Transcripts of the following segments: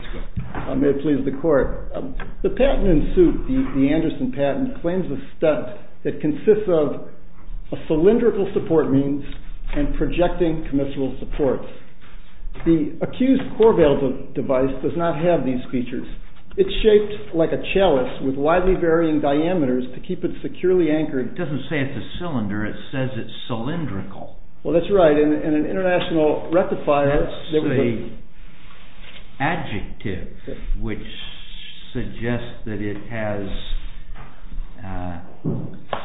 The patent in suit, the Anderson patent, claims a stunt that consists of a cylindrical support means and projecting commissural supports. The accused COREVALVE device does not have these features. It's shaped like a chalice with widely varying diameters to keep it securely anchored. It doesn't say it's a cylinder, it says it's cylindrical. Well, that's right. In an international rectifier... It's an adjective which suggests that it has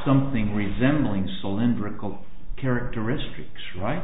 something resembling cylindrical characteristics, right?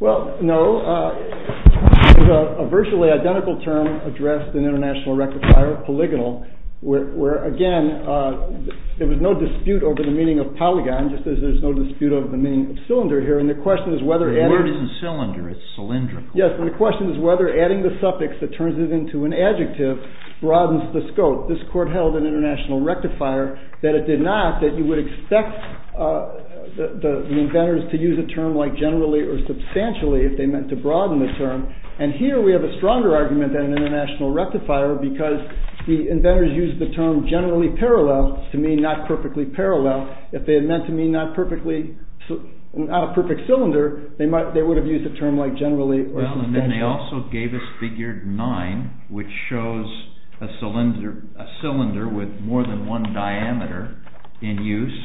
Well, no. It's a virtually identical term addressed in international rectifier, polygonal, where, again, there was no dispute over the meaning of polygon, just as there's no dispute over the meaning of cylinder here, and the question is whether... The word isn't cylinder, it's cylindrical. Yes, and the question is whether adding the suffix that turns it into an adjective broadens the scope. This court held in international rectifier that it did not, that you would expect the inventors to use a term like generally or substantially if they meant to broaden the term. And here we have a stronger argument than in international rectifier because the inventors used the term generally parallel to mean not perfectly parallel. If they had meant to mean not a perfect cylinder, they would have used a term like generally or substantially. Well, and then they also gave us figure 9, which shows a cylinder with more than one diameter in use.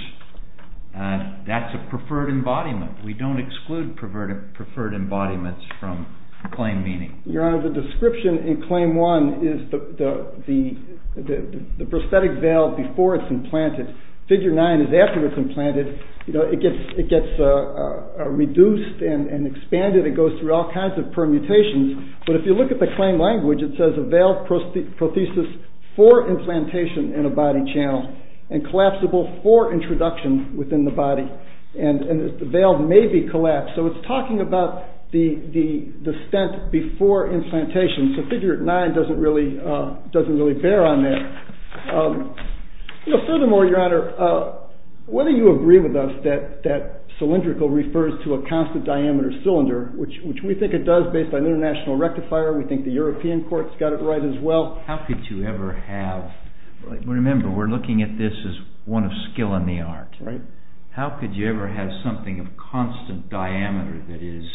That's a preferred embodiment. We don't exclude preferred embodiments from claim meaning. Your Honor, the description in claim 1 is the prosthetic valve before it's implanted. Figure 9 is after it's implanted. It gets reduced and expanded. It goes through all kinds of permutations. But if you look at the claim language, it says a valve prosthesis for implantation in a body channel and collapsible for introduction within the body. And the valve may be collapsed. So it's talking about the stent before implantation. So figure 9 doesn't really bear on that. Furthermore, Your Honor, whether you agree with us that cylindrical refers to a constant diameter cylinder, which we think it does based on international rectifier. We think the European courts got it right as well. Remember, we're looking at this as one of skill in the art. How could you ever have something of constant diameter that is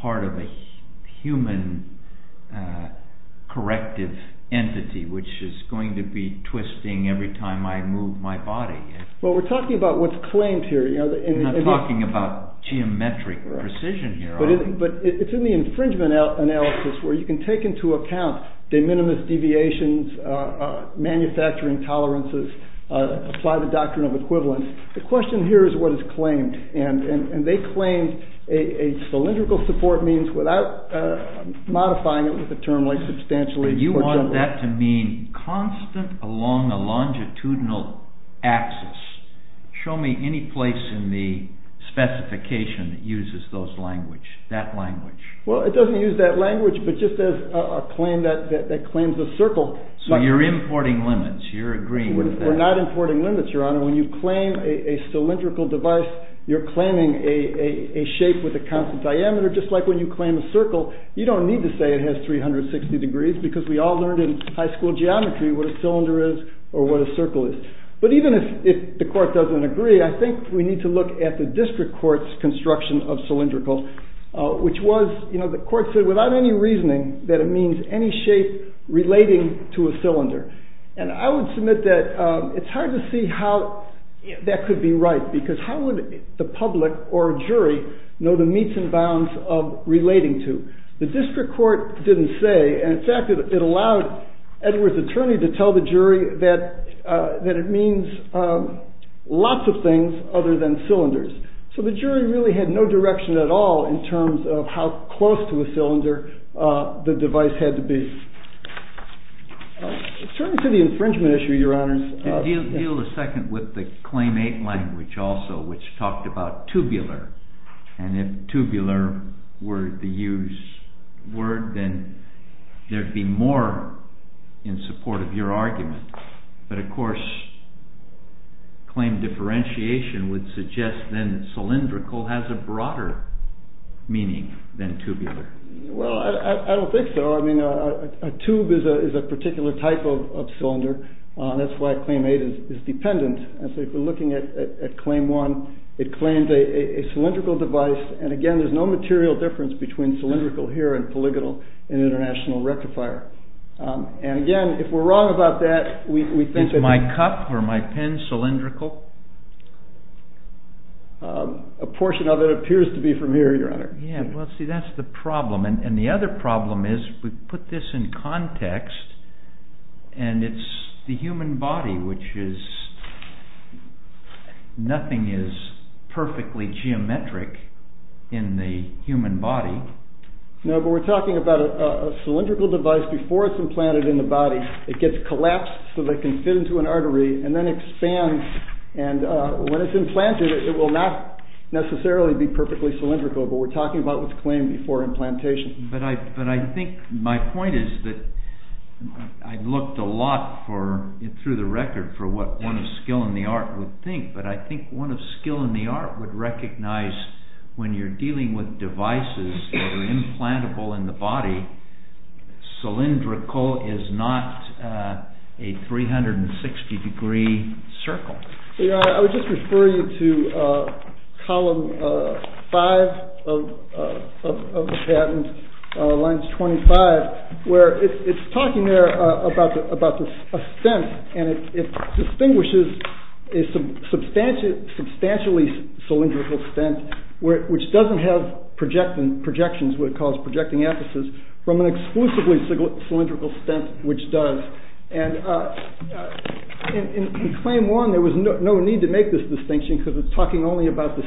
part of a human corrective entity, which is going to be twisting every time I move my body? Well, we're talking about what's claimed here. I'm not talking about geometric precision here. But it's in the infringement analysis where you can take into account de minimis deviations, manufacturing tolerances, apply the doctrine of equivalence. The question here is what is claimed. And they claim a cylindrical support means without modifying it with a term like substantially. Do you want that to mean constant along the longitudinal axis? Show me any place in the specification that uses those language, that language. Well, it doesn't use that language, but just as a claim that claims the circle. So you're importing limits. You're agreeing with that. When you claim a cylindrical device, you're claiming a shape with a constant diameter, just like when you claim a circle. You don't need to say it has 360 degrees because we all learned in high school geometry what a cylinder is or what a circle is. But even if the court doesn't agree, I think we need to look at the district court's construction of cylindrical, which was, you know, the court said without any reasoning that it means any shape relating to a cylinder. And I would submit that it's hard to see how that could be right, because how would the public or jury know the meets and bounds of relating to? The district court didn't say, and in fact, it allowed Edward's attorney to tell the jury that it means lots of things other than cylinders. So the jury really had no direction at all in terms of how close to a cylinder the device had to be. Certainly to the infringement issue, Your Honors. Deal a second with the Claim 8 language also, which talked about tubular. And if tubular were the used word, then there'd be more in support of your argument. But of course, claim differentiation would suggest then that cylindrical has a broader meaning than tubular. Well, I don't think so. I mean, a tube is a particular type of cylinder. That's why Claim 8 is dependent. And so if we're looking at Claim 1, it claims a cylindrical device. And again, there's no material difference between cylindrical here and polygonal in international rectifier. And again, if we're wrong about that, we think that... Is my cup or my pen cylindrical? A portion of it appears to be from here, Your Honor. Yeah, well, see, that's the problem. And the other problem is we put this in context, and it's the human body, which is... Nothing is perfectly geometric in the human body. No, but we're talking about a cylindrical device. Before it's implanted in the body, it gets collapsed so that it can fit into an artery and then expands. And when it's implanted, it will not necessarily be perfectly cylindrical. But we're talking about what's claimed before implantation. But I think my point is that I've looked a lot through the record for what one of skill in the art would think. But I think one of skill in the art would recognize when you're dealing with devices that are implantable in the body, cylindrical is not a 360-degree circle. Your Honor, I would just refer you to column five of the patent, lines 25, where it's talking there about a stent, and it distinguishes a substantially cylindrical stent, which doesn't have projections, what it calls projecting emphasis, from an exclusively cylindrical stent, which does. And in claim one, there was no need to make this distinction because it's talking only about the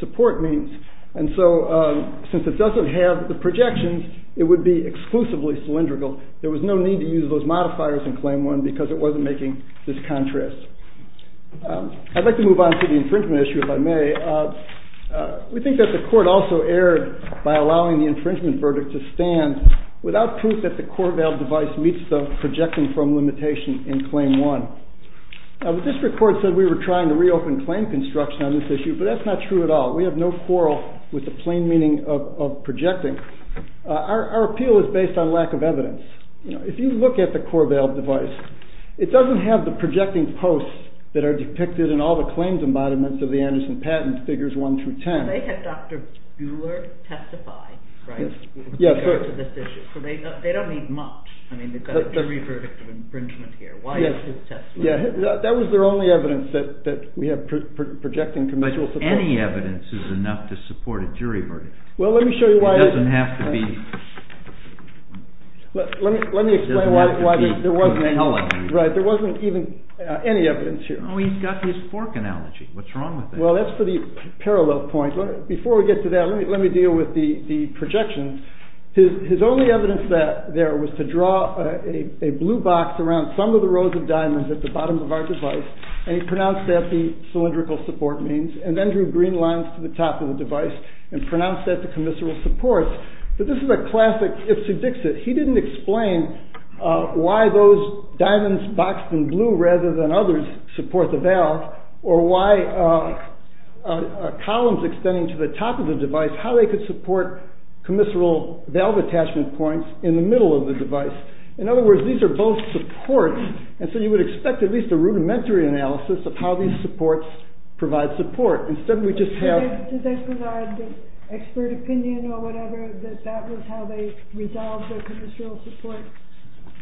support means. And so since it doesn't have the projections, it would be exclusively cylindrical. There was no need to use those modifiers in claim one because it wasn't making this contrast. I'd like to move on to the infringement issue, if I may. We think that the court also erred by allowing the infringement verdict to stand without proof that the core valve device meets the projecting form limitation in claim one. Now the district court said we were trying to reopen claim construction on this issue, but that's not true at all. We have no quarrel with the plain meaning of projecting. Our appeal is based on lack of evidence. If you look at the core valve device, it doesn't have the projecting posts that are depicted in all the claims embodiments of the Anderson patent, figures one through ten. They had Dr. Buehler testify in regard to this issue, so they don't need much. I mean, they've got a jury verdict of infringement here. Why is his testimony? That was their only evidence that we have projecting conventional support. But any evidence is enough to support a jury verdict. Well, let me show you why. It doesn't have to be. Let me explain why there wasn't even any evidence here. Oh, he's got his fork analogy. What's wrong with that? Well, that's for the parallel point. Before we get to that, let me deal with the projections. His only evidence there was to draw a blue box around some of the rows of diamonds at the bottom of our device, and he pronounced that the cylindrical support means, and then drew green lines to the top of the device and pronounced that the commissural support. But this is a classic Ipsy Dixit. He didn't explain why those diamonds boxed in blue rather than others support the valve or why columns extending to the top of the device, how they could support commissural valve attachment points in the middle of the device. In other words, these are both supports, and so you would expect at least a rudimentary analysis of how these supports provide support. Instead, we just have— Did they provide expert opinion or whatever that that was how they resolved their commissural support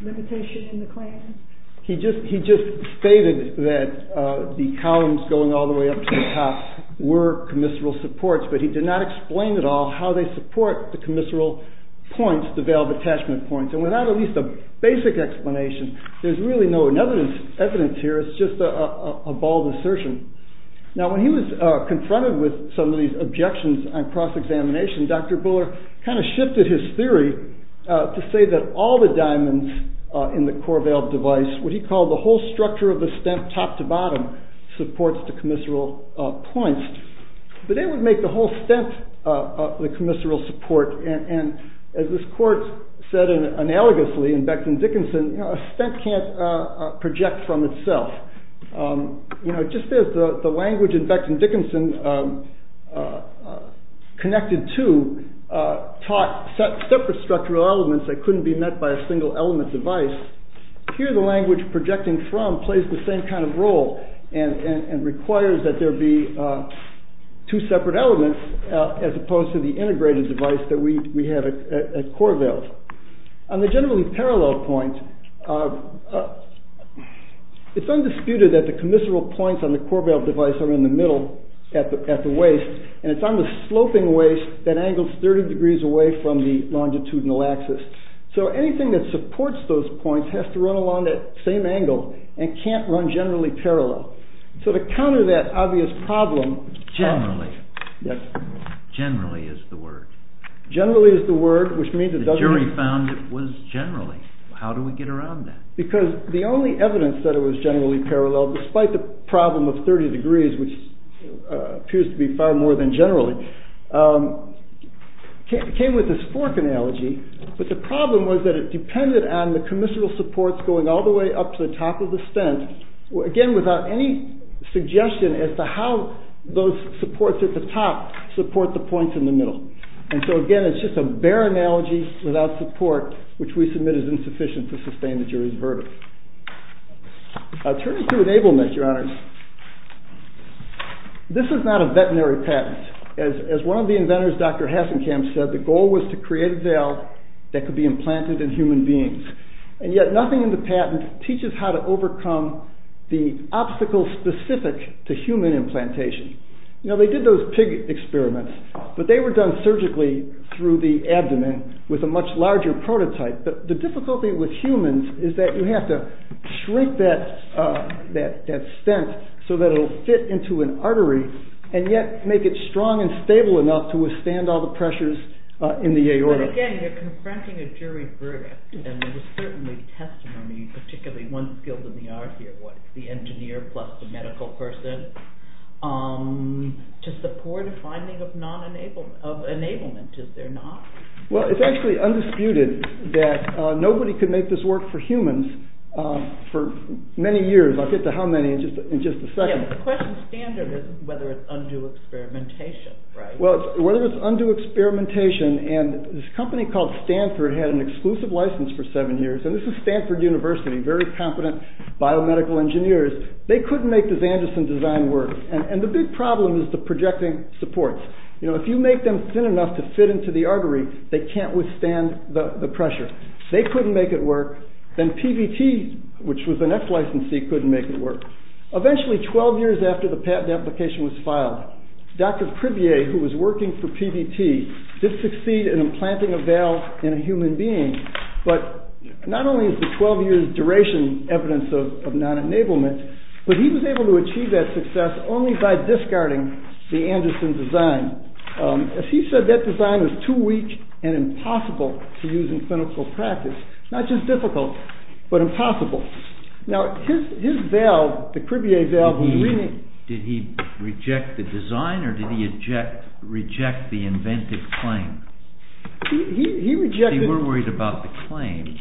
limitation in the claim? He just stated that the columns going all the way up to the top were commissural supports, but he did not explain at all how they support the commissural points, the valve attachment points. And without at least a basic explanation, there's really no evidence here. It's just a bald assertion. Now, when he was confronted with some of these objections on cross-examination, Dr. Buller kind of shifted his theory to say that all the diamonds in the core valve device, what he called the whole structure of the stent top to bottom, supports the commissural points. But it would make the whole stent the commissural support, and as this court said analogously in Beckton-Dickinson, a stent can't project from itself. Just as the language in Beckton-Dickinson connected to taught separate structural elements that couldn't be met by a single element device, here the language projecting from plays the same kind of role and requires that there be two separate elements as opposed to the integrated device that we have at core valve. On the generally parallel point, it's undisputed that the commissural points on the core valve device are in the middle at the waist, and it's on the sloping waist that angles 30 degrees away from the longitudinal axis. So anything that supports those points has to run along that same angle and can't run generally parallel. So to counter that obvious problem... Generally. Generally is the word. Generally is the word, which means it doesn't... The jury found it was generally. How do we get around that? Because the only evidence that it was generally parallel, despite the problem of 30 degrees, which appears to be far more than generally, came with this fork analogy. But the problem was that it depended on the commissural supports going all the way up to the top of the stent, again without any suggestion as to how those supports at the top support the points in the middle. And so again, it's just a bare analogy without support, which we submit is insufficient to sustain the jury's verdict. Turning to enablement, your honors, this is not a veterinary patent. As one of the inventors, Dr. Hassenkamp, said, the goal was to create a valve that could be implanted in human beings. And yet nothing in the patent teaches how to overcome the obstacles specific to human implantation. Now, they did those pig experiments, but they were done surgically through the abdomen with a much larger prototype. But the difficulty with humans is that you have to shrink that stent so that it will fit into an artery and yet make it strong and stable enough to withstand all the pressures in the aorta. But again, you're confronting a jury verdict. And there was certainly testimony, particularly one skilled in the art here, the engineer plus the medical person, to support a finding of enablement, is there not? Well, it's actually undisputed that nobody could make this work for humans for many years. I'll get to how many in just a second. The question standard is whether it's undue experimentation, right? Well, whether it's undue experimentation, and this company called Stanford had an exclusive license for seven years. And this is Stanford University, very competent biomedical engineers. They couldn't make the Zanderson design work. And the big problem is the projecting supports. You know, if you make them thin enough to fit into the artery, they can't withstand the pressure. They couldn't make it work. Then PVT, which was the next licensee, couldn't make it work. Eventually, 12 years after the patent application was filed, Dr. Crevier, who was working for PVT, did succeed in implanting a valve in a human being. But not only is the 12-year duration evidence of non-enablement, but he was able to achieve that success only by discarding the Anderson design. He said that design was too weak and impossible to use in clinical practice. Not just difficult, but impossible. Now, his valve, the Crevier valve... Did he reject the design, or did he reject the invented claim? He rejected... They were worried about the claim,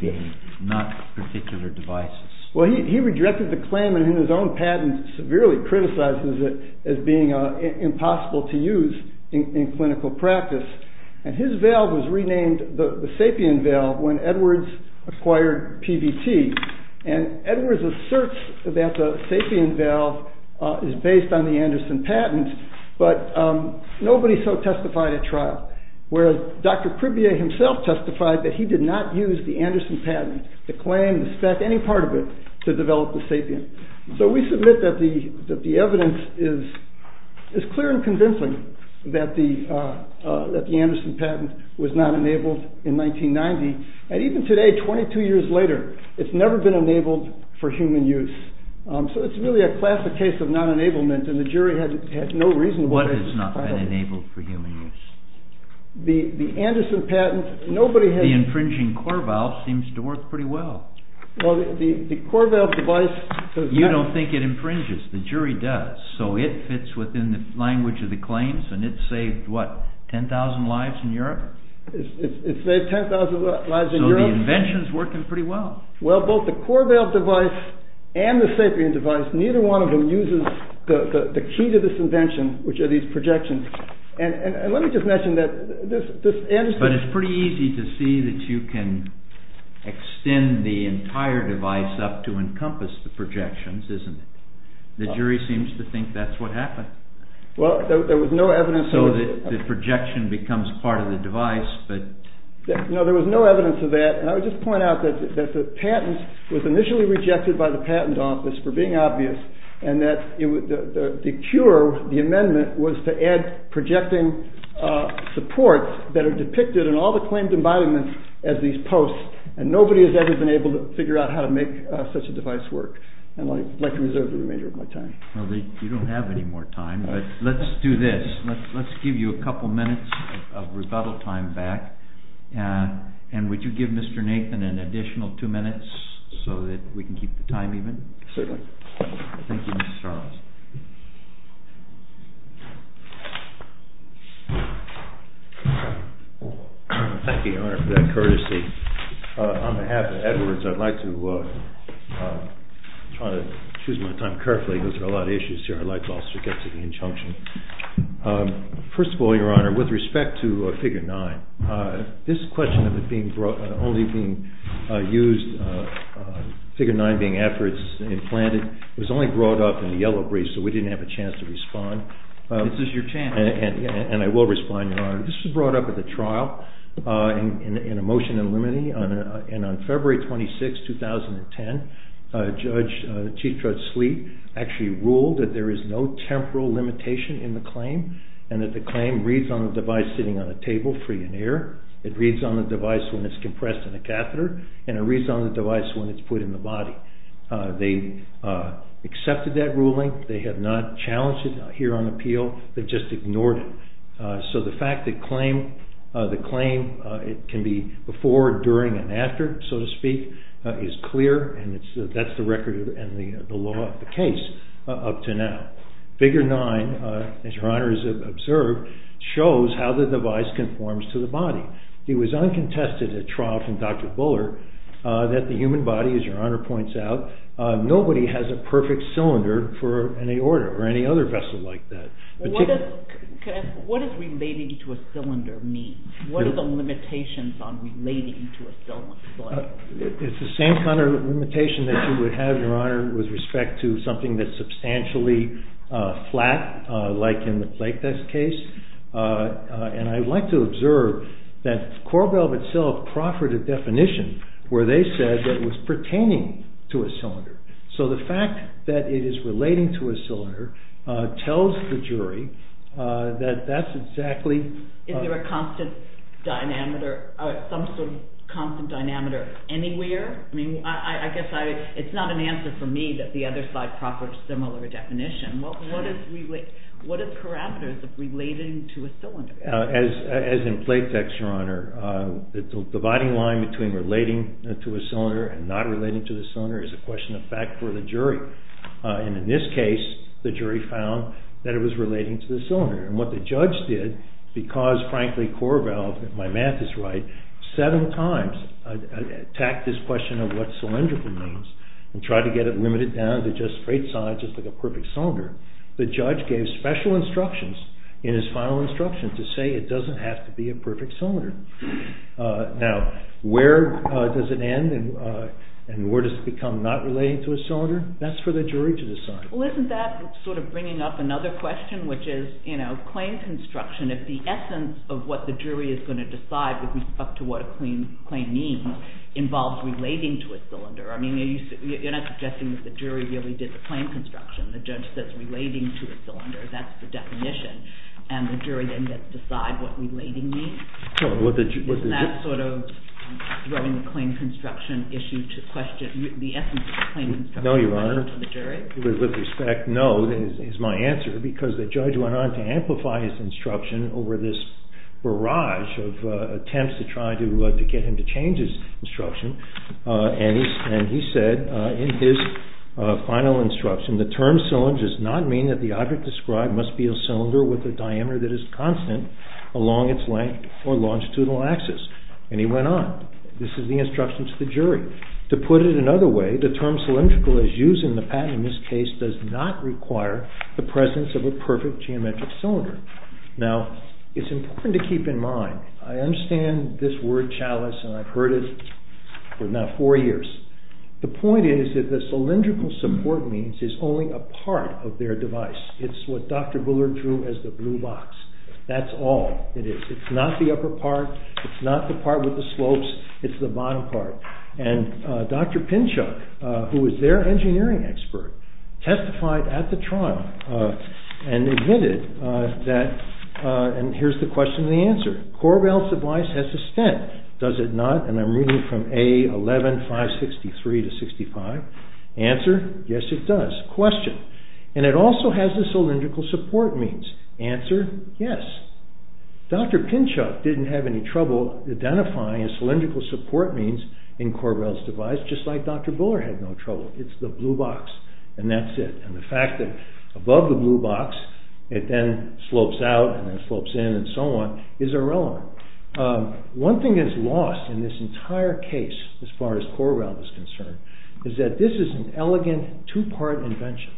not particular devices. Well, he rejected the claim, and in his own patent, severely criticizes it as being impossible to use in clinical practice. And his valve was renamed the Sapien valve when Edwards acquired PVT. And Edwards asserts that the Sapien valve is based on the Anderson patent, but nobody so testified at trial. Whereas Dr. Crevier himself testified that he did not use the Anderson patent, the claim, the spec, any part of it, to develop the Sapien. So we submit that the evidence is clear and convincing that the Anderson patent was not enabled in 1990. And even today, 22 years later, it's never been enabled for human use. So it's really a classic case of non-enablement, and the jury had no reasonable... What has not been enabled for human use? The Anderson patent, nobody has... The infringing core valve seems to work pretty well. Well, the core valve device... You don't think it infringes, the jury does. So it fits within the language of the claims, and it saved, what, 10,000 lives in Europe? It saved 10,000 lives in Europe. So the invention's working pretty well. Well, both the core valve device and the Sapien device, neither one of them uses the key to this invention, which are these projections. And let me just mention that this... But it's pretty easy to see that you can extend the entire device up to encompass the projections, isn't it? The jury seems to think that's what happened. Well, there was no evidence... The projection becomes part of the device, but... No, there was no evidence of that. And I would just point out that the patent was initially rejected by the patent office for being obvious, and that the cure, the amendment, was to add projecting supports that are depicted in all the claimed embodiments as these posts, and nobody has ever been able to figure out how to make such a device work. And I'd like to reserve the remainder of my time. Well, you don't have any more time, but let's do this. Let's give you a couple minutes of rebuttal time back. And would you give Mr. Nathan an additional two minutes so that we can keep the time even? Certainly. Thank you, Mr. Strauss. Thank you, Your Honor, for that courtesy. On behalf of Edwards, I'd like to try to choose my time carefully because there are a lot of issues here I'd like to also get to the injunction. First of all, Your Honor, with respect to Figure 9, this question of it only being used, Figure 9 being after it's implanted, was only brought up in the yellow briefs, so we didn't have a chance to respond. This is your chance. And I will respond, Your Honor. This was brought up at the trial in a motion in limine, and on February 26, 2010, Chief Judge Sleet actually ruled that there is no temporal limitation in the claim and that the claim reads on the device sitting on a table free in air, it reads on the device when it's compressed in a catheter, and it reads on the device when it's put in the body. They accepted that ruling. They have not challenged it here on appeal. They've just ignored it. So the fact that the claim can be before, during, and after, so to speak, is clear, and that's the record and the law of the case up to now. Figure 9, as Your Honor has observed, shows how the device conforms to the body. It was uncontested at trial from Dr. Buller that the human body, as Your Honor points out, nobody has a perfect cylinder for any order or any other vessel like that. What does relating to a cylinder mean? What are the limitations on relating to a cylinder? It's the same kind of limitation that you would have, Your Honor, with respect to something that's substantially flat, like in the plate desk case. And I'd like to observe that Korbel itself proffered a definition where they said that it was pertaining to a cylinder. So the fact that it is relating to a cylinder tells the jury that that's exactly Is there a constant dynamiter, some sort of constant dynamiter anywhere? I guess it's not an answer for me that the other side proffered a similar definition. What are the parameters of relating to a cylinder? As in plate decks, Your Honor, the dividing line between relating to a cylinder and not relating to the cylinder is a question of fact for the jury. And in this case, the jury found that it was relating to the cylinder. And what the judge did, because frankly Korbel, if my math is right, seven times attacked this question of what cylindrical means and tried to get it limited down to just straight sides, just like a perfect cylinder, the judge gave special instructions in his final instruction to say it doesn't have to be a perfect cylinder. Now, where does it end and where does it become not relating to a cylinder? That's for the jury to decide. Well, isn't that sort of bringing up another question, which is, you know, claim construction, if the essence of what the jury is going to decide with respect to what a claim means involves relating to a cylinder. I mean, you're not suggesting that the jury really did the claim construction. The judge says relating to a cylinder. That's the definition. And the jury then gets to decide what relating means. Isn't that sort of throwing the claim construction issue to question the essence of the claim construction question to the jury? No, Your Honor, with respect, no, is my answer, because the judge went on to amplify his instruction over this barrage of attempts to try to get him to change his instruction. And he said in his final instruction, the term cylinder does not mean that the object described must be a cylinder with a diameter that is constant along its length or longitudinal axis. And he went on. This is the instruction to the jury. To put it another way, the term cylindrical, as used in the patent in this case, does not require the presence of a perfect geometric cylinder. Now, it's important to keep in mind, I understand this word chalice, and I've heard it for now four years. The point is that the cylindrical support means is only a part of their device. It's what Dr. Bullard drew as the blue box. That's all it is. It's not the upper part. It's not the part with the slopes. It's the bottom part. And Dr. Pinchuk, who was their engineering expert, testified at the trial and admitted that, and here's the question and the answer. Korbel's device has a stent, does it not? And I'm reading from A11563 to 65. Answer, yes, it does. Question, and it also has the cylindrical support means. Answer, yes. Dr. Pinchuk didn't have any trouble identifying a cylindrical support means in Korbel's device, just like Dr. Bullard had no trouble. It's the blue box, and that's it. And the fact that above the blue box, it then slopes out and then slopes in and so on, is irrelevant. One thing that is lost in this entire case, as far as Korbel is concerned, is that this is an elegant two-part invention.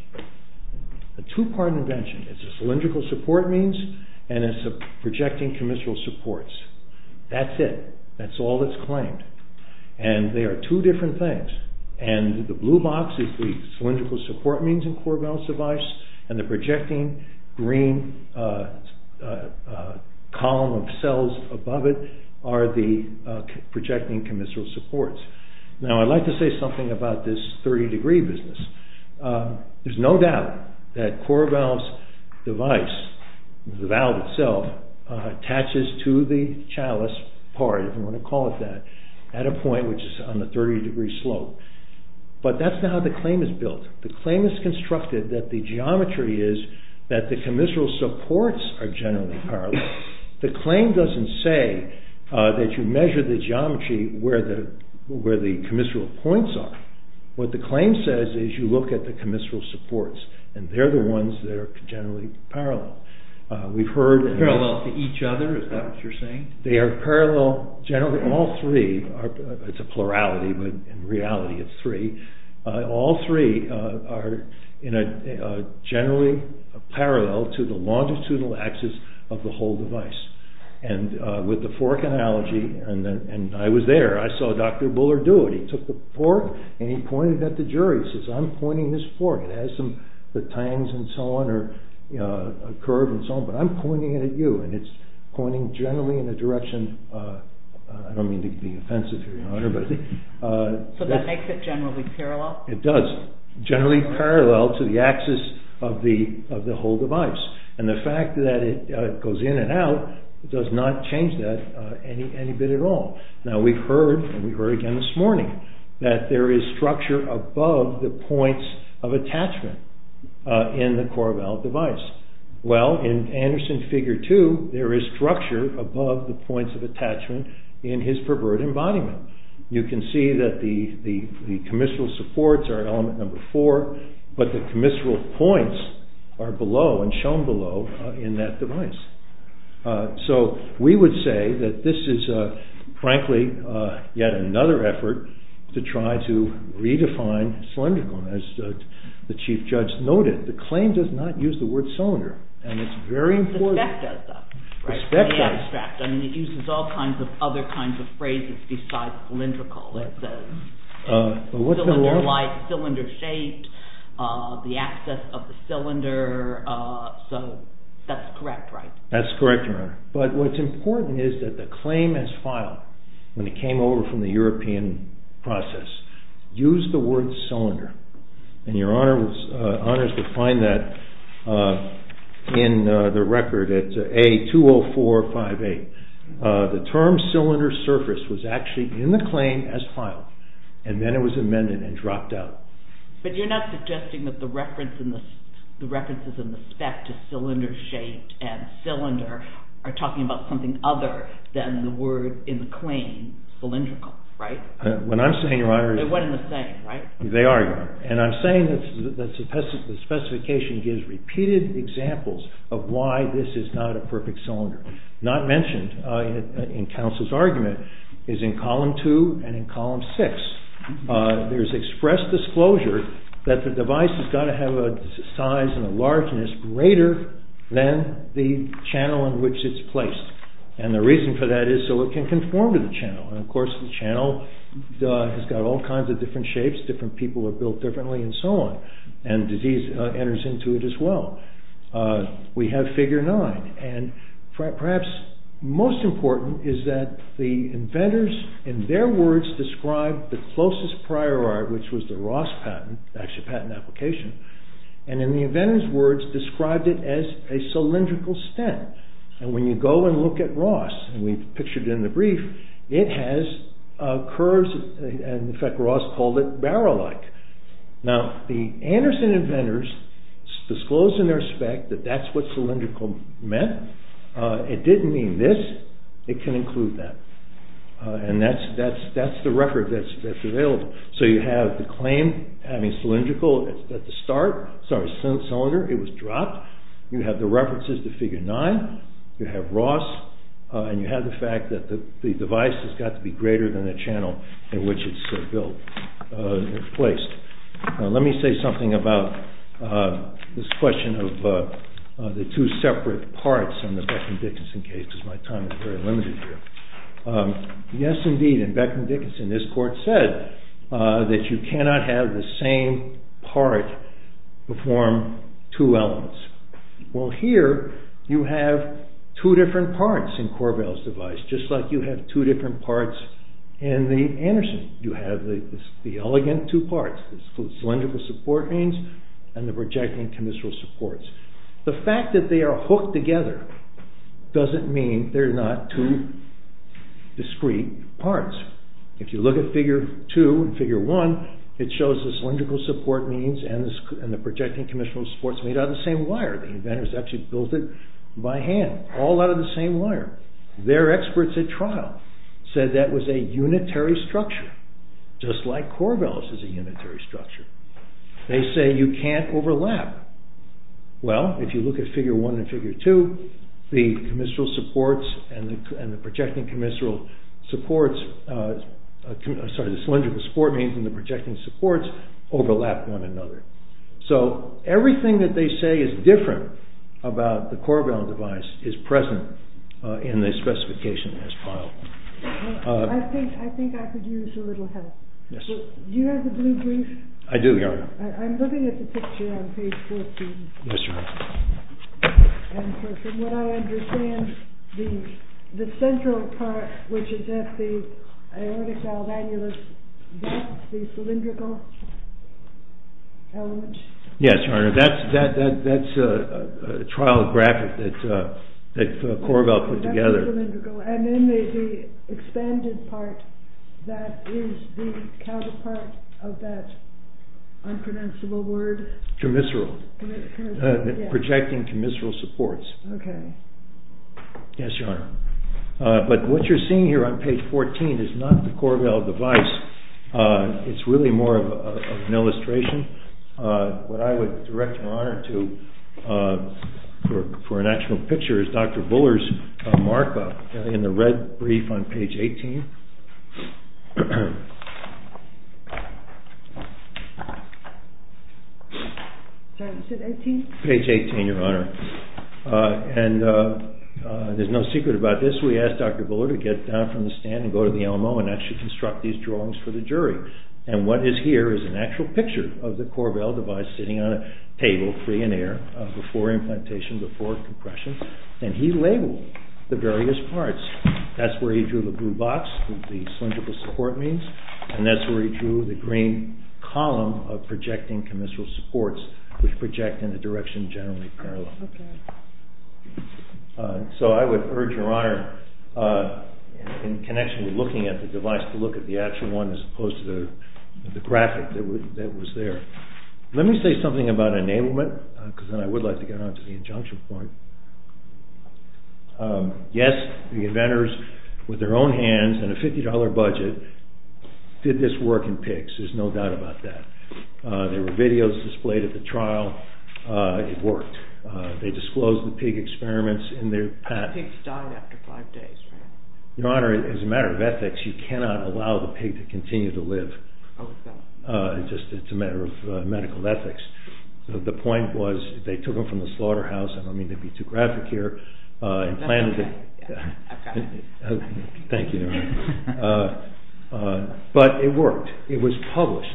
A two-part invention. It's a cylindrical support means, and it's a projecting commissural supports. That's it. That's all that's claimed. And they are two different things. And the blue box is the cylindrical support means in Korbel's device, and the projecting green column of cells above it are the projecting commissural supports. Now, I'd like to say something about this 30-degree business. There's no doubt that Korbel's device, the valve itself, attaches to the chalice part, if you want to call it that, at a point which is on the 30-degree slope. But that's not how the claim is built. The claim is constructed that the geometry is that the commissural supports are generally parallel. The claim doesn't say that you measure the geometry where the commissural points are. What the claim says is you look at the commissural supports, and they're the ones that are generally parallel. We've heard... Parallel to each other? Is that what you're saying? They are parallel, generally, all three. It's a plurality, but in reality it's three. All three are generally parallel to the longitudinal axis of the whole device. With the fork analogy, and I was there, I saw Dr. Bullard do it. He took the fork, and he pointed at the jury. He says, I'm pointing this fork. It has the tines and so on, or a curve and so on, but I'm pointing it at you, and it's pointing generally in a direction... I don't mean to be offensive here, Your Honor, but... So that makes it generally parallel? It does. Generally parallel to the axis of the whole device. And the fact that it goes in and out does not change that any bit at all. Now we've heard, and we heard again this morning, that there is structure above the points of attachment in the Corval device. Well, in Anderson Figure 2, there is structure above the points of attachment in his pervert embodiment. You can see that the commissural supports are element number four, but the commissural points are below, and shown below, in that device. So we would say that this is, frankly, yet another effort to try to redefine cylindrical. As the Chief Judge noted, the claim does not use the word cylinder, and it's very important... The spec does, though. The spec does. The abstract. I mean, it uses all kinds of other kinds of phrases besides cylindrical. It says cylinder-like, cylinder-shaped, the axis of the cylinder. So that's correct, right? That's correct, Your Honor. But what's important is that the claim as filed, when it came over from the European process, used the word cylinder. And Your Honor was honored to find that in the record at A-20458. The term cylinder-surface was actually in the claim as filed, and then it was amended and dropped out. But you're not suggesting that the references in the spec to cylinder-shaped and cylinder are talking about something other than the word in the claim, cylindrical, right? When I'm saying, Your Honor... They're one and the same, right? They are, Your Honor. And I'm saying that the specification gives repeated examples of why this is not a perfect cylinder. Not mentioned in counsel's argument is in column 2 and in column 6. There's expressed disclosure that the device has got to have a size and a largeness greater than the channel in which it's placed. And the reason for that is so it can conform to the channel. And of course the channel has got all kinds of different shapes, different people have built differently, and so on. And disease enters into it as well. We have figure 9. And perhaps most important is that the inventors, in their words, described the closest prior art, which was the Ross patent, actually patent application, and in the inventors' words, described it as a cylindrical stem. And when you go and look at Ross, and we've pictured it in the brief, it has curves, and in fact, Ross called it barrel-like. Now, the Anderson inventors disclosed in their spec that that's what cylindrical meant. It didn't mean this. It can include that. And that's the record that's available. So you have the claim having cylindrical at the start, sorry, cylinder, it was dropped. You have the references to figure 9. You have Ross. And you have the fact that the device has got to be greater than the channel in which it's built and placed. Now, let me say something about this question of the two separate parts in the Beckman-Dickinson case, because my time is very limited here. Yes, indeed, in Beckman-Dickinson, this court said that you cannot have the same part form two elements. Well, here, you have two different parts in Corvall's device, just like you have two different parts in the Anderson. You have the elegant two parts, the cylindrical support beams and the projecting commissural supports. The fact that they are hooked together doesn't mean they're not two discrete parts. If you look at figure 2 and figure 1, it shows the cylindrical support beams and the projecting commissural supports made out of the same wire. The inventors actually built it by hand, all out of the same wire. Their experts at trial said that was a unitary structure, just like Corvall's is a unitary structure. They say you can't overlap. Well, if you look at figure 1 and figure 2, the cylindrical support beams and the projecting supports overlap one another. So, everything that they say is different about the Corvall device is present in the specification as filed. I think I could use a little help. Do you have the blue brief? I do, yes. I'm looking at the picture on page 14. Yes, Your Honor. From what I understand, the central part, which is at the ionic valve annulus, that's the cylindrical element? Yes, Your Honor. That's a trial graphic that Corvall put together. That's the cylindrical. And then the expanded part, that is the counterpart of that unpronounceable word? Commissural. Projecting commissural supports. Okay. Yes, Your Honor. But what you're seeing here on page 14 is not the Corvall device. It's really more of an illustration. What I would direct my honor to for an actual picture is Dr. Buller's mark in the red brief on page 18. Sorry, is it 18? Page 18, Your Honor. And there's no secret about this. We asked Dr. Buller to get down from the stand and go to the LMO and actually construct these drawings for the jury. And what is here is an actual picture of the Corvall device sitting on a table free in air before implantation, before compression. And he labeled the various parts. That's where he drew the blue box, the cylindrical support means. And that's where he drew the green column of projecting commissural supports, which project in a direction generally parallel. Okay. So I would urge, Your Honor, in connection with looking at the device, to look at the actual one as opposed to the graphic that was there. Let me say something about enablement, because then I would like to get on to the injunction point. Yes, the inventors, with their own hands and a $50 budget, did this work in pigs. There's no doubt about that. There were videos displayed at the trial. It worked. They disclosed the pig experiments in their patent. Pigs died after five days, right? Your Honor, as a matter of ethics, you cannot allow the pig to continue to live. Oh, okay. It's just a matter of medical ethics. The point was, if they took them from the slaughterhouse, I don't mean to be too graphic here. That's okay. Thank you, Your Honor. But it worked. It was published.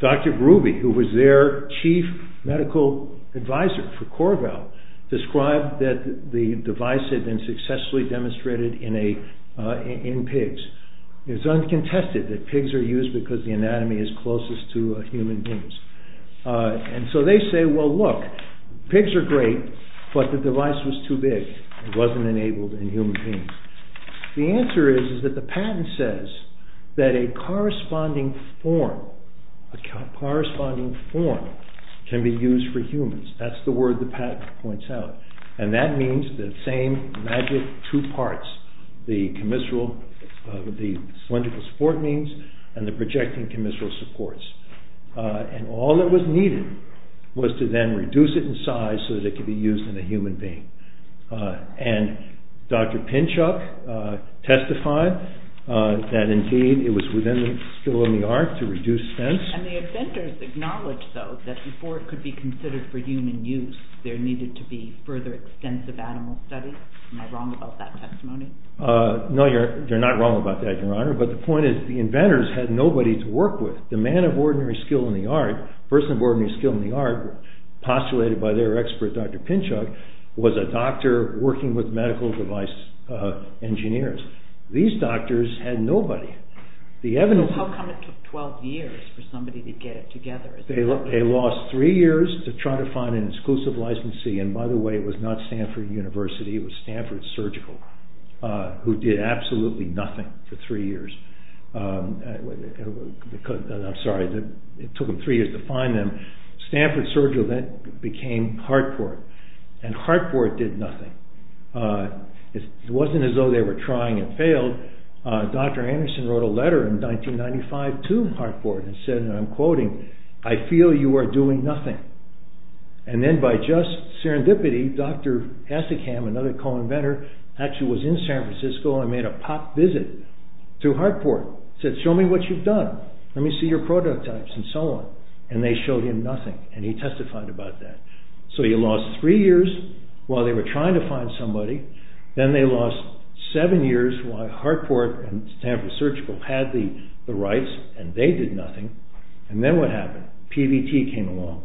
Dr. Groovey, who was their chief medical advisor for Corvall, described that the device had been successfully demonstrated in pigs. It's uncontested that pigs are used because the anatomy is closest to human beings. And so they say, well, look, but the device was too big. It wasn't enabled in human beings. The answer is that the patent says that a corresponding form can be used for humans. That's the word the patent points out. And that means the same magic two parts, the cylindrical support means and the projecting commissural supports. And all that was needed was to then reduce it in size so that it could be used in a human being. And Dr. Pinchuk testified that indeed it was within the skill of the art to reduce sense. And the inventors acknowledged, though, that before it could be considered for human use, there needed to be further extensive animal studies. Am I wrong about that testimony? No, you're not wrong about that, Your Honor. But the point is, the inventors had nobody to work with. The man of ordinary skill in the art, the person of ordinary skill in the art, postulated by their expert, Dr. Pinchuk, was a doctor working with medical device engineers. These doctors had nobody. How come it took 12 years for somebody to get it together? They lost three years to try to find an exclusive licensee. And by the way, it was not Stanford University, it was Stanford Surgical, who did absolutely nothing for three years. I'm sorry, it took them three years to find them. Stanford Surgical then became Hartford. And Hartford did nothing. It wasn't as though they were trying and failed. Dr. Anderson wrote a letter in 1995 to Hartford and said, and I'm quoting, I feel you are doing nothing. And then by just serendipity, Dr. Essigham, another co-inventor, actually was in San Francisco and made a pop visit to Hartford. He said, show me what you've done. Let me see your prototypes and so on. And they showed him nothing. And he testified about that. So you lost three years while they were trying to find somebody. Then they lost seven years while Hartford and Stanford Surgical had the rights and they did nothing. And then what happened? PVT came along,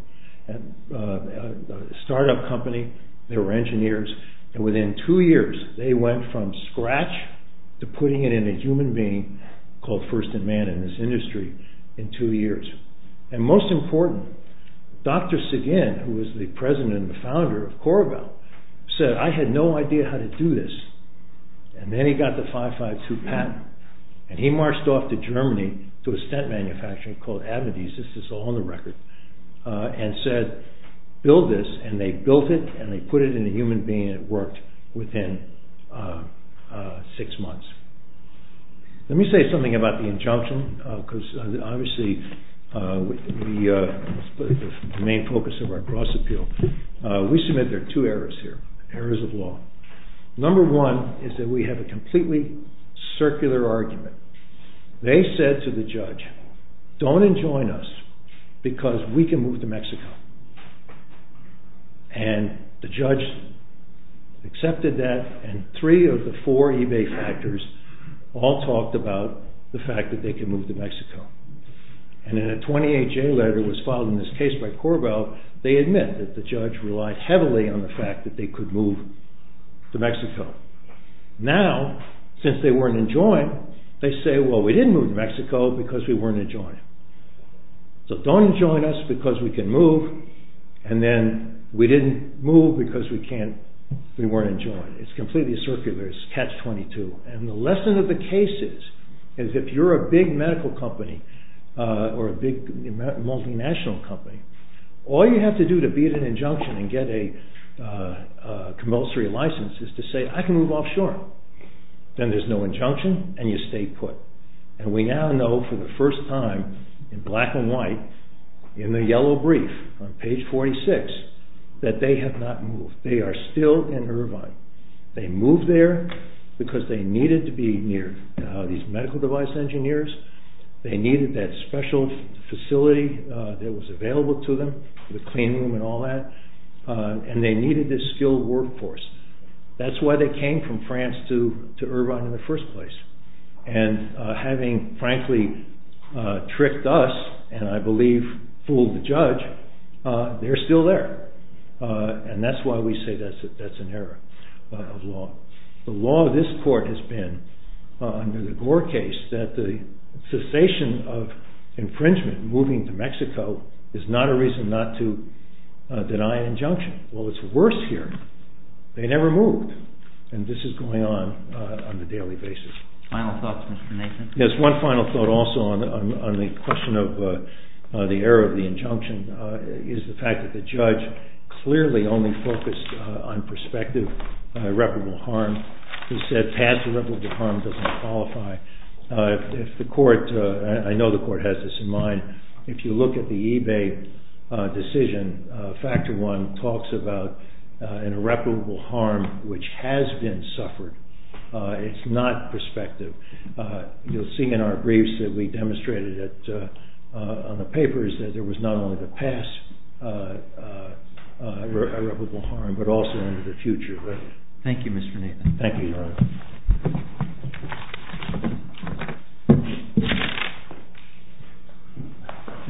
a start-up company. They were engineers. And within two years, they went from scratch to putting it in a human being called first in man in this industry in two years. And most important, Dr. Sagan, who was the president and the founder of Corabel, said, I had no idea how to do this. And then he got the 552 patent. And he marched off to Germany to a stent manufacturer called Avedis. This is all on the record. And said, build this. And they built it and they put it in a human being and it worked within six months. Let me say something about the injunction. Because obviously, the main focus of our cross-appeal, we submit there are two errors here, errors of law. Number one is that we have a completely circular argument. don't enjoin us because we can move to Mexico. And the judge accepted that and three of the four eBay factors all talked about the fact that they can move to Mexico. And in a 28-J letter that was filed in this case by Corabel, they admit that the judge relied heavily on the fact that they could move to Mexico. Now, since they weren't enjoined, they say, well, we didn't move to Mexico because we weren't enjoined. So don't enjoin us because we can move and then we didn't move because we weren't enjoined. It's completely circular. It's catch-22. And the lesson of the case is if you're a big medical company or a big multinational company, all you have to do to beat an injunction and get a commercial license is to say, I can move offshore. Then there's no injunction and you stay put. And we now know for the first time in black and white in the yellow brief on page 46 that they have not moved. They are still in Irvine. They moved there because they needed to be near these medical device engineers. They needed that special facility that was available to them, the clean room and all that. And they needed this skilled workforce. That's why they came from France to Irvine in the first place. And having frankly tricked us and I believe fooled the judge, they're still there. And that's why we say that's an error of law. The law of this court has been under the Gore case that the cessation of infringement moving to Mexico is not a reason not to deny an injunction. Well, it's worse here. They never moved. And this is going on on a daily basis. Final thoughts, Mr. Nathan? Yes, one final thought also on the question of the error of the injunction is the fact that the judge clearly only focused on prospective irreparable harm. He said past irreparable harm doesn't qualify. If the court, I know the court has this in mind, if you look at the eBay decision, factor one talks about an irreparable harm which has been suffered. It's not prospective. You'll see in our briefs that we demonstrated on the papers that there was not only the past irreparable harm but also into the future. Thank you, Mr. Nathan. Thank you, Your Honor.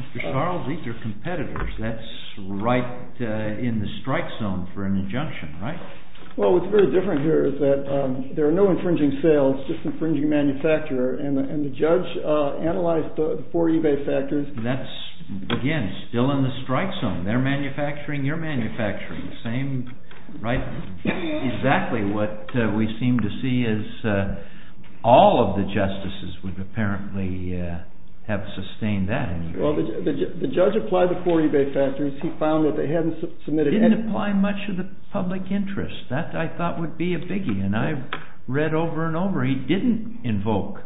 Mr. Charles, these are competitors. That's right in the strike zone for an injunction, right? Well, what's very different here is that there are no infringing sales, just infringing manufacturer, and the judge analyzed the four eBay factors. That's, again, still in the strike zone. They're manufacturing. You're manufacturing. The same, right? Exactly what we seem to see is all of the justices would apparently have sustained that injunction. Well, the judge applied the four eBay factors. He found that they hadn't submitted anything. He didn't apply much of the public interest. That, I thought, would be a biggie, and I've read over and over he didn't invoke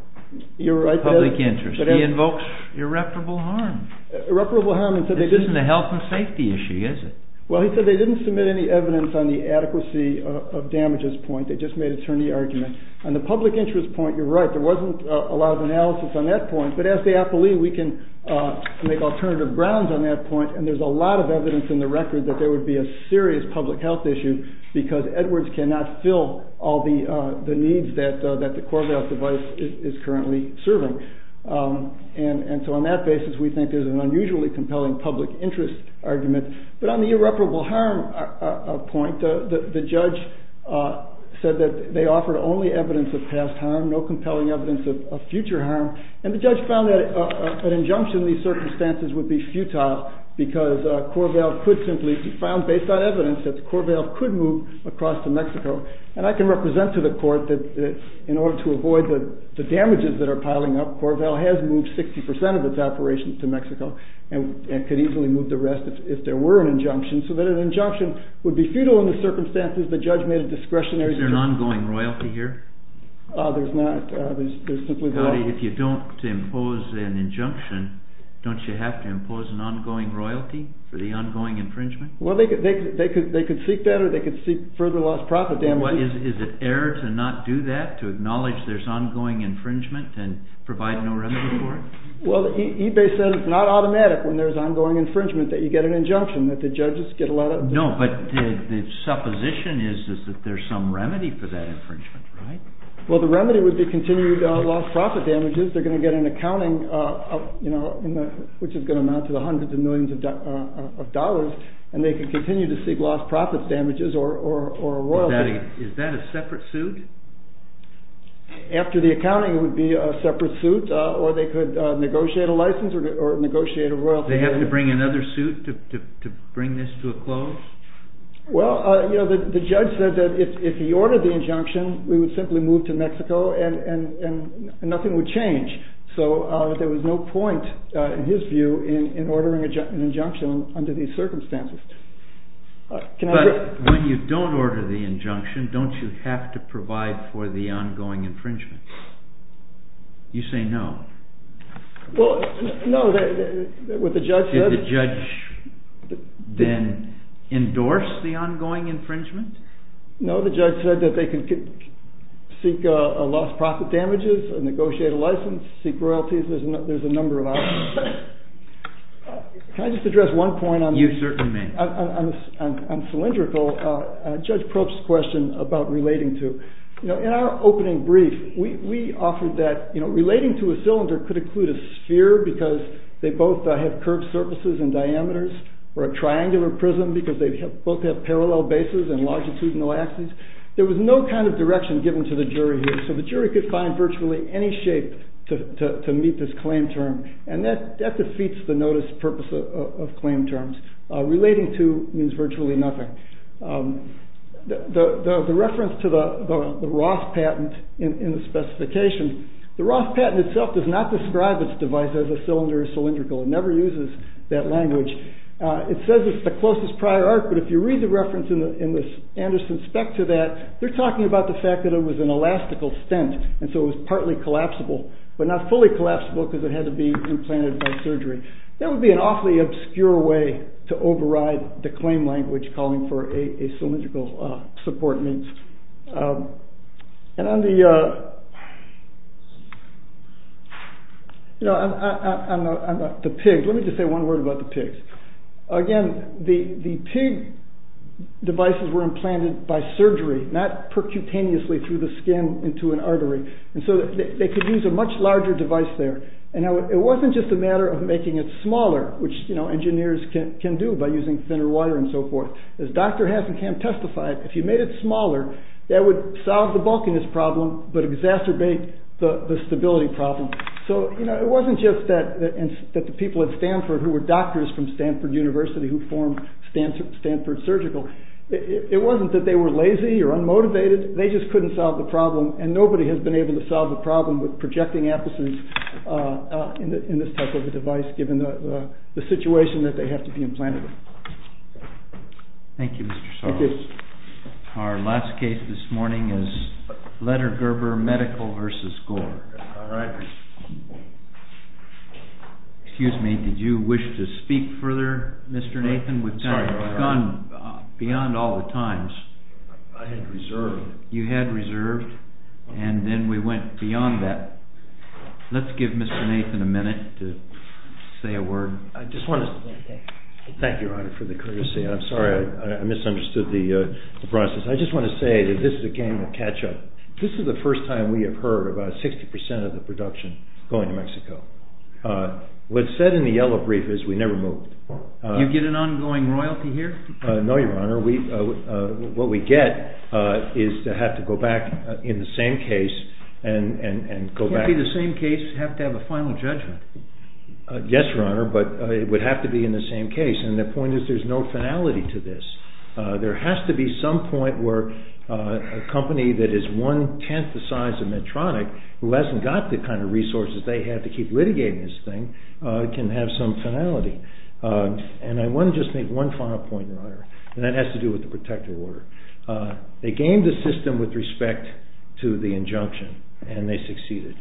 public interest. He invokes irreparable harm. Irreparable harm. This isn't a health and safety issue, is it? Well, he said they didn't submit any evidence on the adequacy of damages point. They just made attorney argument. On the public interest point, you're right. There wasn't a lot of analysis on that point, but as the appellee, we can make alternative grounds on that point, and there's a lot of evidence in the record that there would be a serious public health issue because Edwards cannot fill all the needs that the Corvallis device is currently serving, and so on that basis, we think there's an unusually compelling public interest argument, but on the irreparable harm point, the judge said that they offered only evidence of past harm, no compelling evidence of future harm, and the judge found that an injunction in these circumstances would be futile because Corvallis could simply be found based on evidence that Corvallis could move across to Mexico, and I can represent to the court that in order to avoid the damages that are piling up, Corvallis has moved 60% of its operations to Mexico and could easily move the rest if there were an injunction, so that an injunction would be futile in the circumstances the judge made a discretionary... Is there an ongoing royalty here? There's not. There's simply... Howdy, if you don't impose an injunction, don't you have to impose an ongoing royalty for the ongoing infringement? Well, they could seek that or they could seek further lost profit damages. Is it error to not do that, to acknowledge there's ongoing infringement and provide no remedy for it? Well, eBay said it's not automatic when there's ongoing infringement that you get an injunction, that the judges get a lot of... No, but the supposition is that there's some remedy for that infringement, right? Well, the remedy would be continued lost profit damages. They're going to get an accounting, which is going to amount to the hundreds of millions of dollars, and they can continue to seek lost profit damages or royalty. Is that a separate suit? After the accounting, it would be a separate suit or they could negotiate a license or negotiate a royalty. They have to bring another suit to bring this to a close? Well, the judge said that if he ordered the injunction, we would simply move to Mexico and nothing would change. So there was no point, in his view, in ordering an injunction under these circumstances. But when you don't order the injunction, don't you have to provide for the ongoing infringement? You say no. Well, no, what the judge said... Did the judge then endorse the ongoing infringement? No, the judge said that they could seek lost profit damages, negotiate a license, seek royalties. There's a number of options. Can I just address one point? You certainly may. On cylindrical, Judge Probst's question about relating to. In our opening brief, we offered that relating to a cylinder could include a sphere because they both have curved surfaces and diameters, or a triangular prism because they both have parallel bases and longitudinal axes. There was no kind of direction given to the jury here. So the jury could find virtually any shape to meet this claim term. And that defeats the notice purpose of claim terms. Relating to means virtually nothing. The reference to the Roth patent in the specification, the Roth patent itself does not describe its device as a cylinder or cylindrical. It never uses that language. It says it's the closest prior art, but if you read the reference in the Anderson spec to that, they're talking about the fact that it was an elastical stent, and so it was partly collapsible, but not fully collapsible because it had to be implanted by surgery. That would be an awfully obscure way to override the claim language calling for a cylindrical support means. Let me just say one word about the pigs. Again, the pig devices were implanted by surgery, not percutaneously through the skin into an artery. And so they could use a much larger device there. It wasn't just a matter of making it smaller, which engineers can do by using thinner wire and so forth. As Dr. Hassenkamp testified, if you made it smaller, that would solve the bulkiness problem, but exacerbate the stability problem. It wasn't just that the people at Stanford who were doctors from Stanford University who formed Stanford Surgical, it wasn't that they were lazy or unmotivated. They just couldn't solve the problem, and nobody has been able to solve the problem with projecting apices in this type of a device given the situation that they have to be implanted in. Thank you, Mr. Sorrell. Thank you. Our last case this morning is Ledergerber Medical versus Gore. All right. Excuse me. Did you wish to speak further, Mr. Nathan? Sorry. We've gone beyond all the times. I had reserved. You had reserved, and then we went beyond that. Let's give Mr. Nathan a minute to say a word. I just want to thank you, Your Honor, for the courtesy. I'm sorry I misunderstood the process. I just want to say that this is a game of catch-up. This is the first time we have heard about 60% of the production going to Mexico. What's said in the yellow brief is we never moved. Do you get an ongoing royalty here? No, Your Honor. What we get is to have to go back in the same case and go back. It can't be the same case. You have to have a final judgment. Yes, Your Honor, but it would have to be in the same case, and the point is there's no finality to this. There has to be some point where a company that is one-tenth the size of Medtronic, who hasn't got the kind of resources they have to keep litigating this thing, can have some finality. And I want to just make one final point, Your Honor, and that has to do with the protective order. They gamed the system with respect to the injunction, and they succeeded.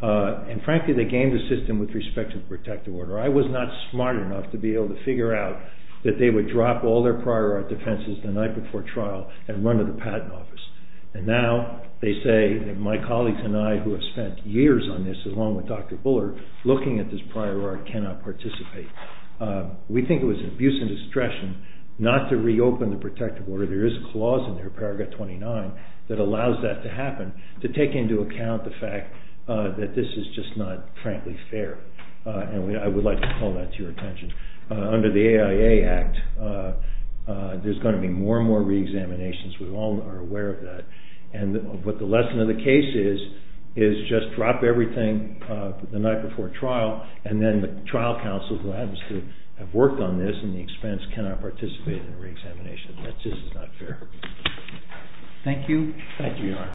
And frankly, they gamed the system with respect to the protective order. I was not smart enough to be able to figure out that they would drop all their prior art defenses the night before trial and run to the patent office. And now they say that my colleagues and I who have spent years on this along with Dr. Bullard looking at this prior art cannot participate. We think it was an abuse and distraction not to reopen the protective order. There is a clause in there, paragraph 29, that allows that to happen to take into account the fact that this is just not frankly fair. And I would like to call that to your attention. Under the AIA Act, there's going to be more and more reexaminations. We all are aware of that. And what the lesson of the case is is just drop everything the night before trial, and then the trial counsel who happens to have worked on this and the expense cannot participate in the reexamination. That just is not fair. Thank you.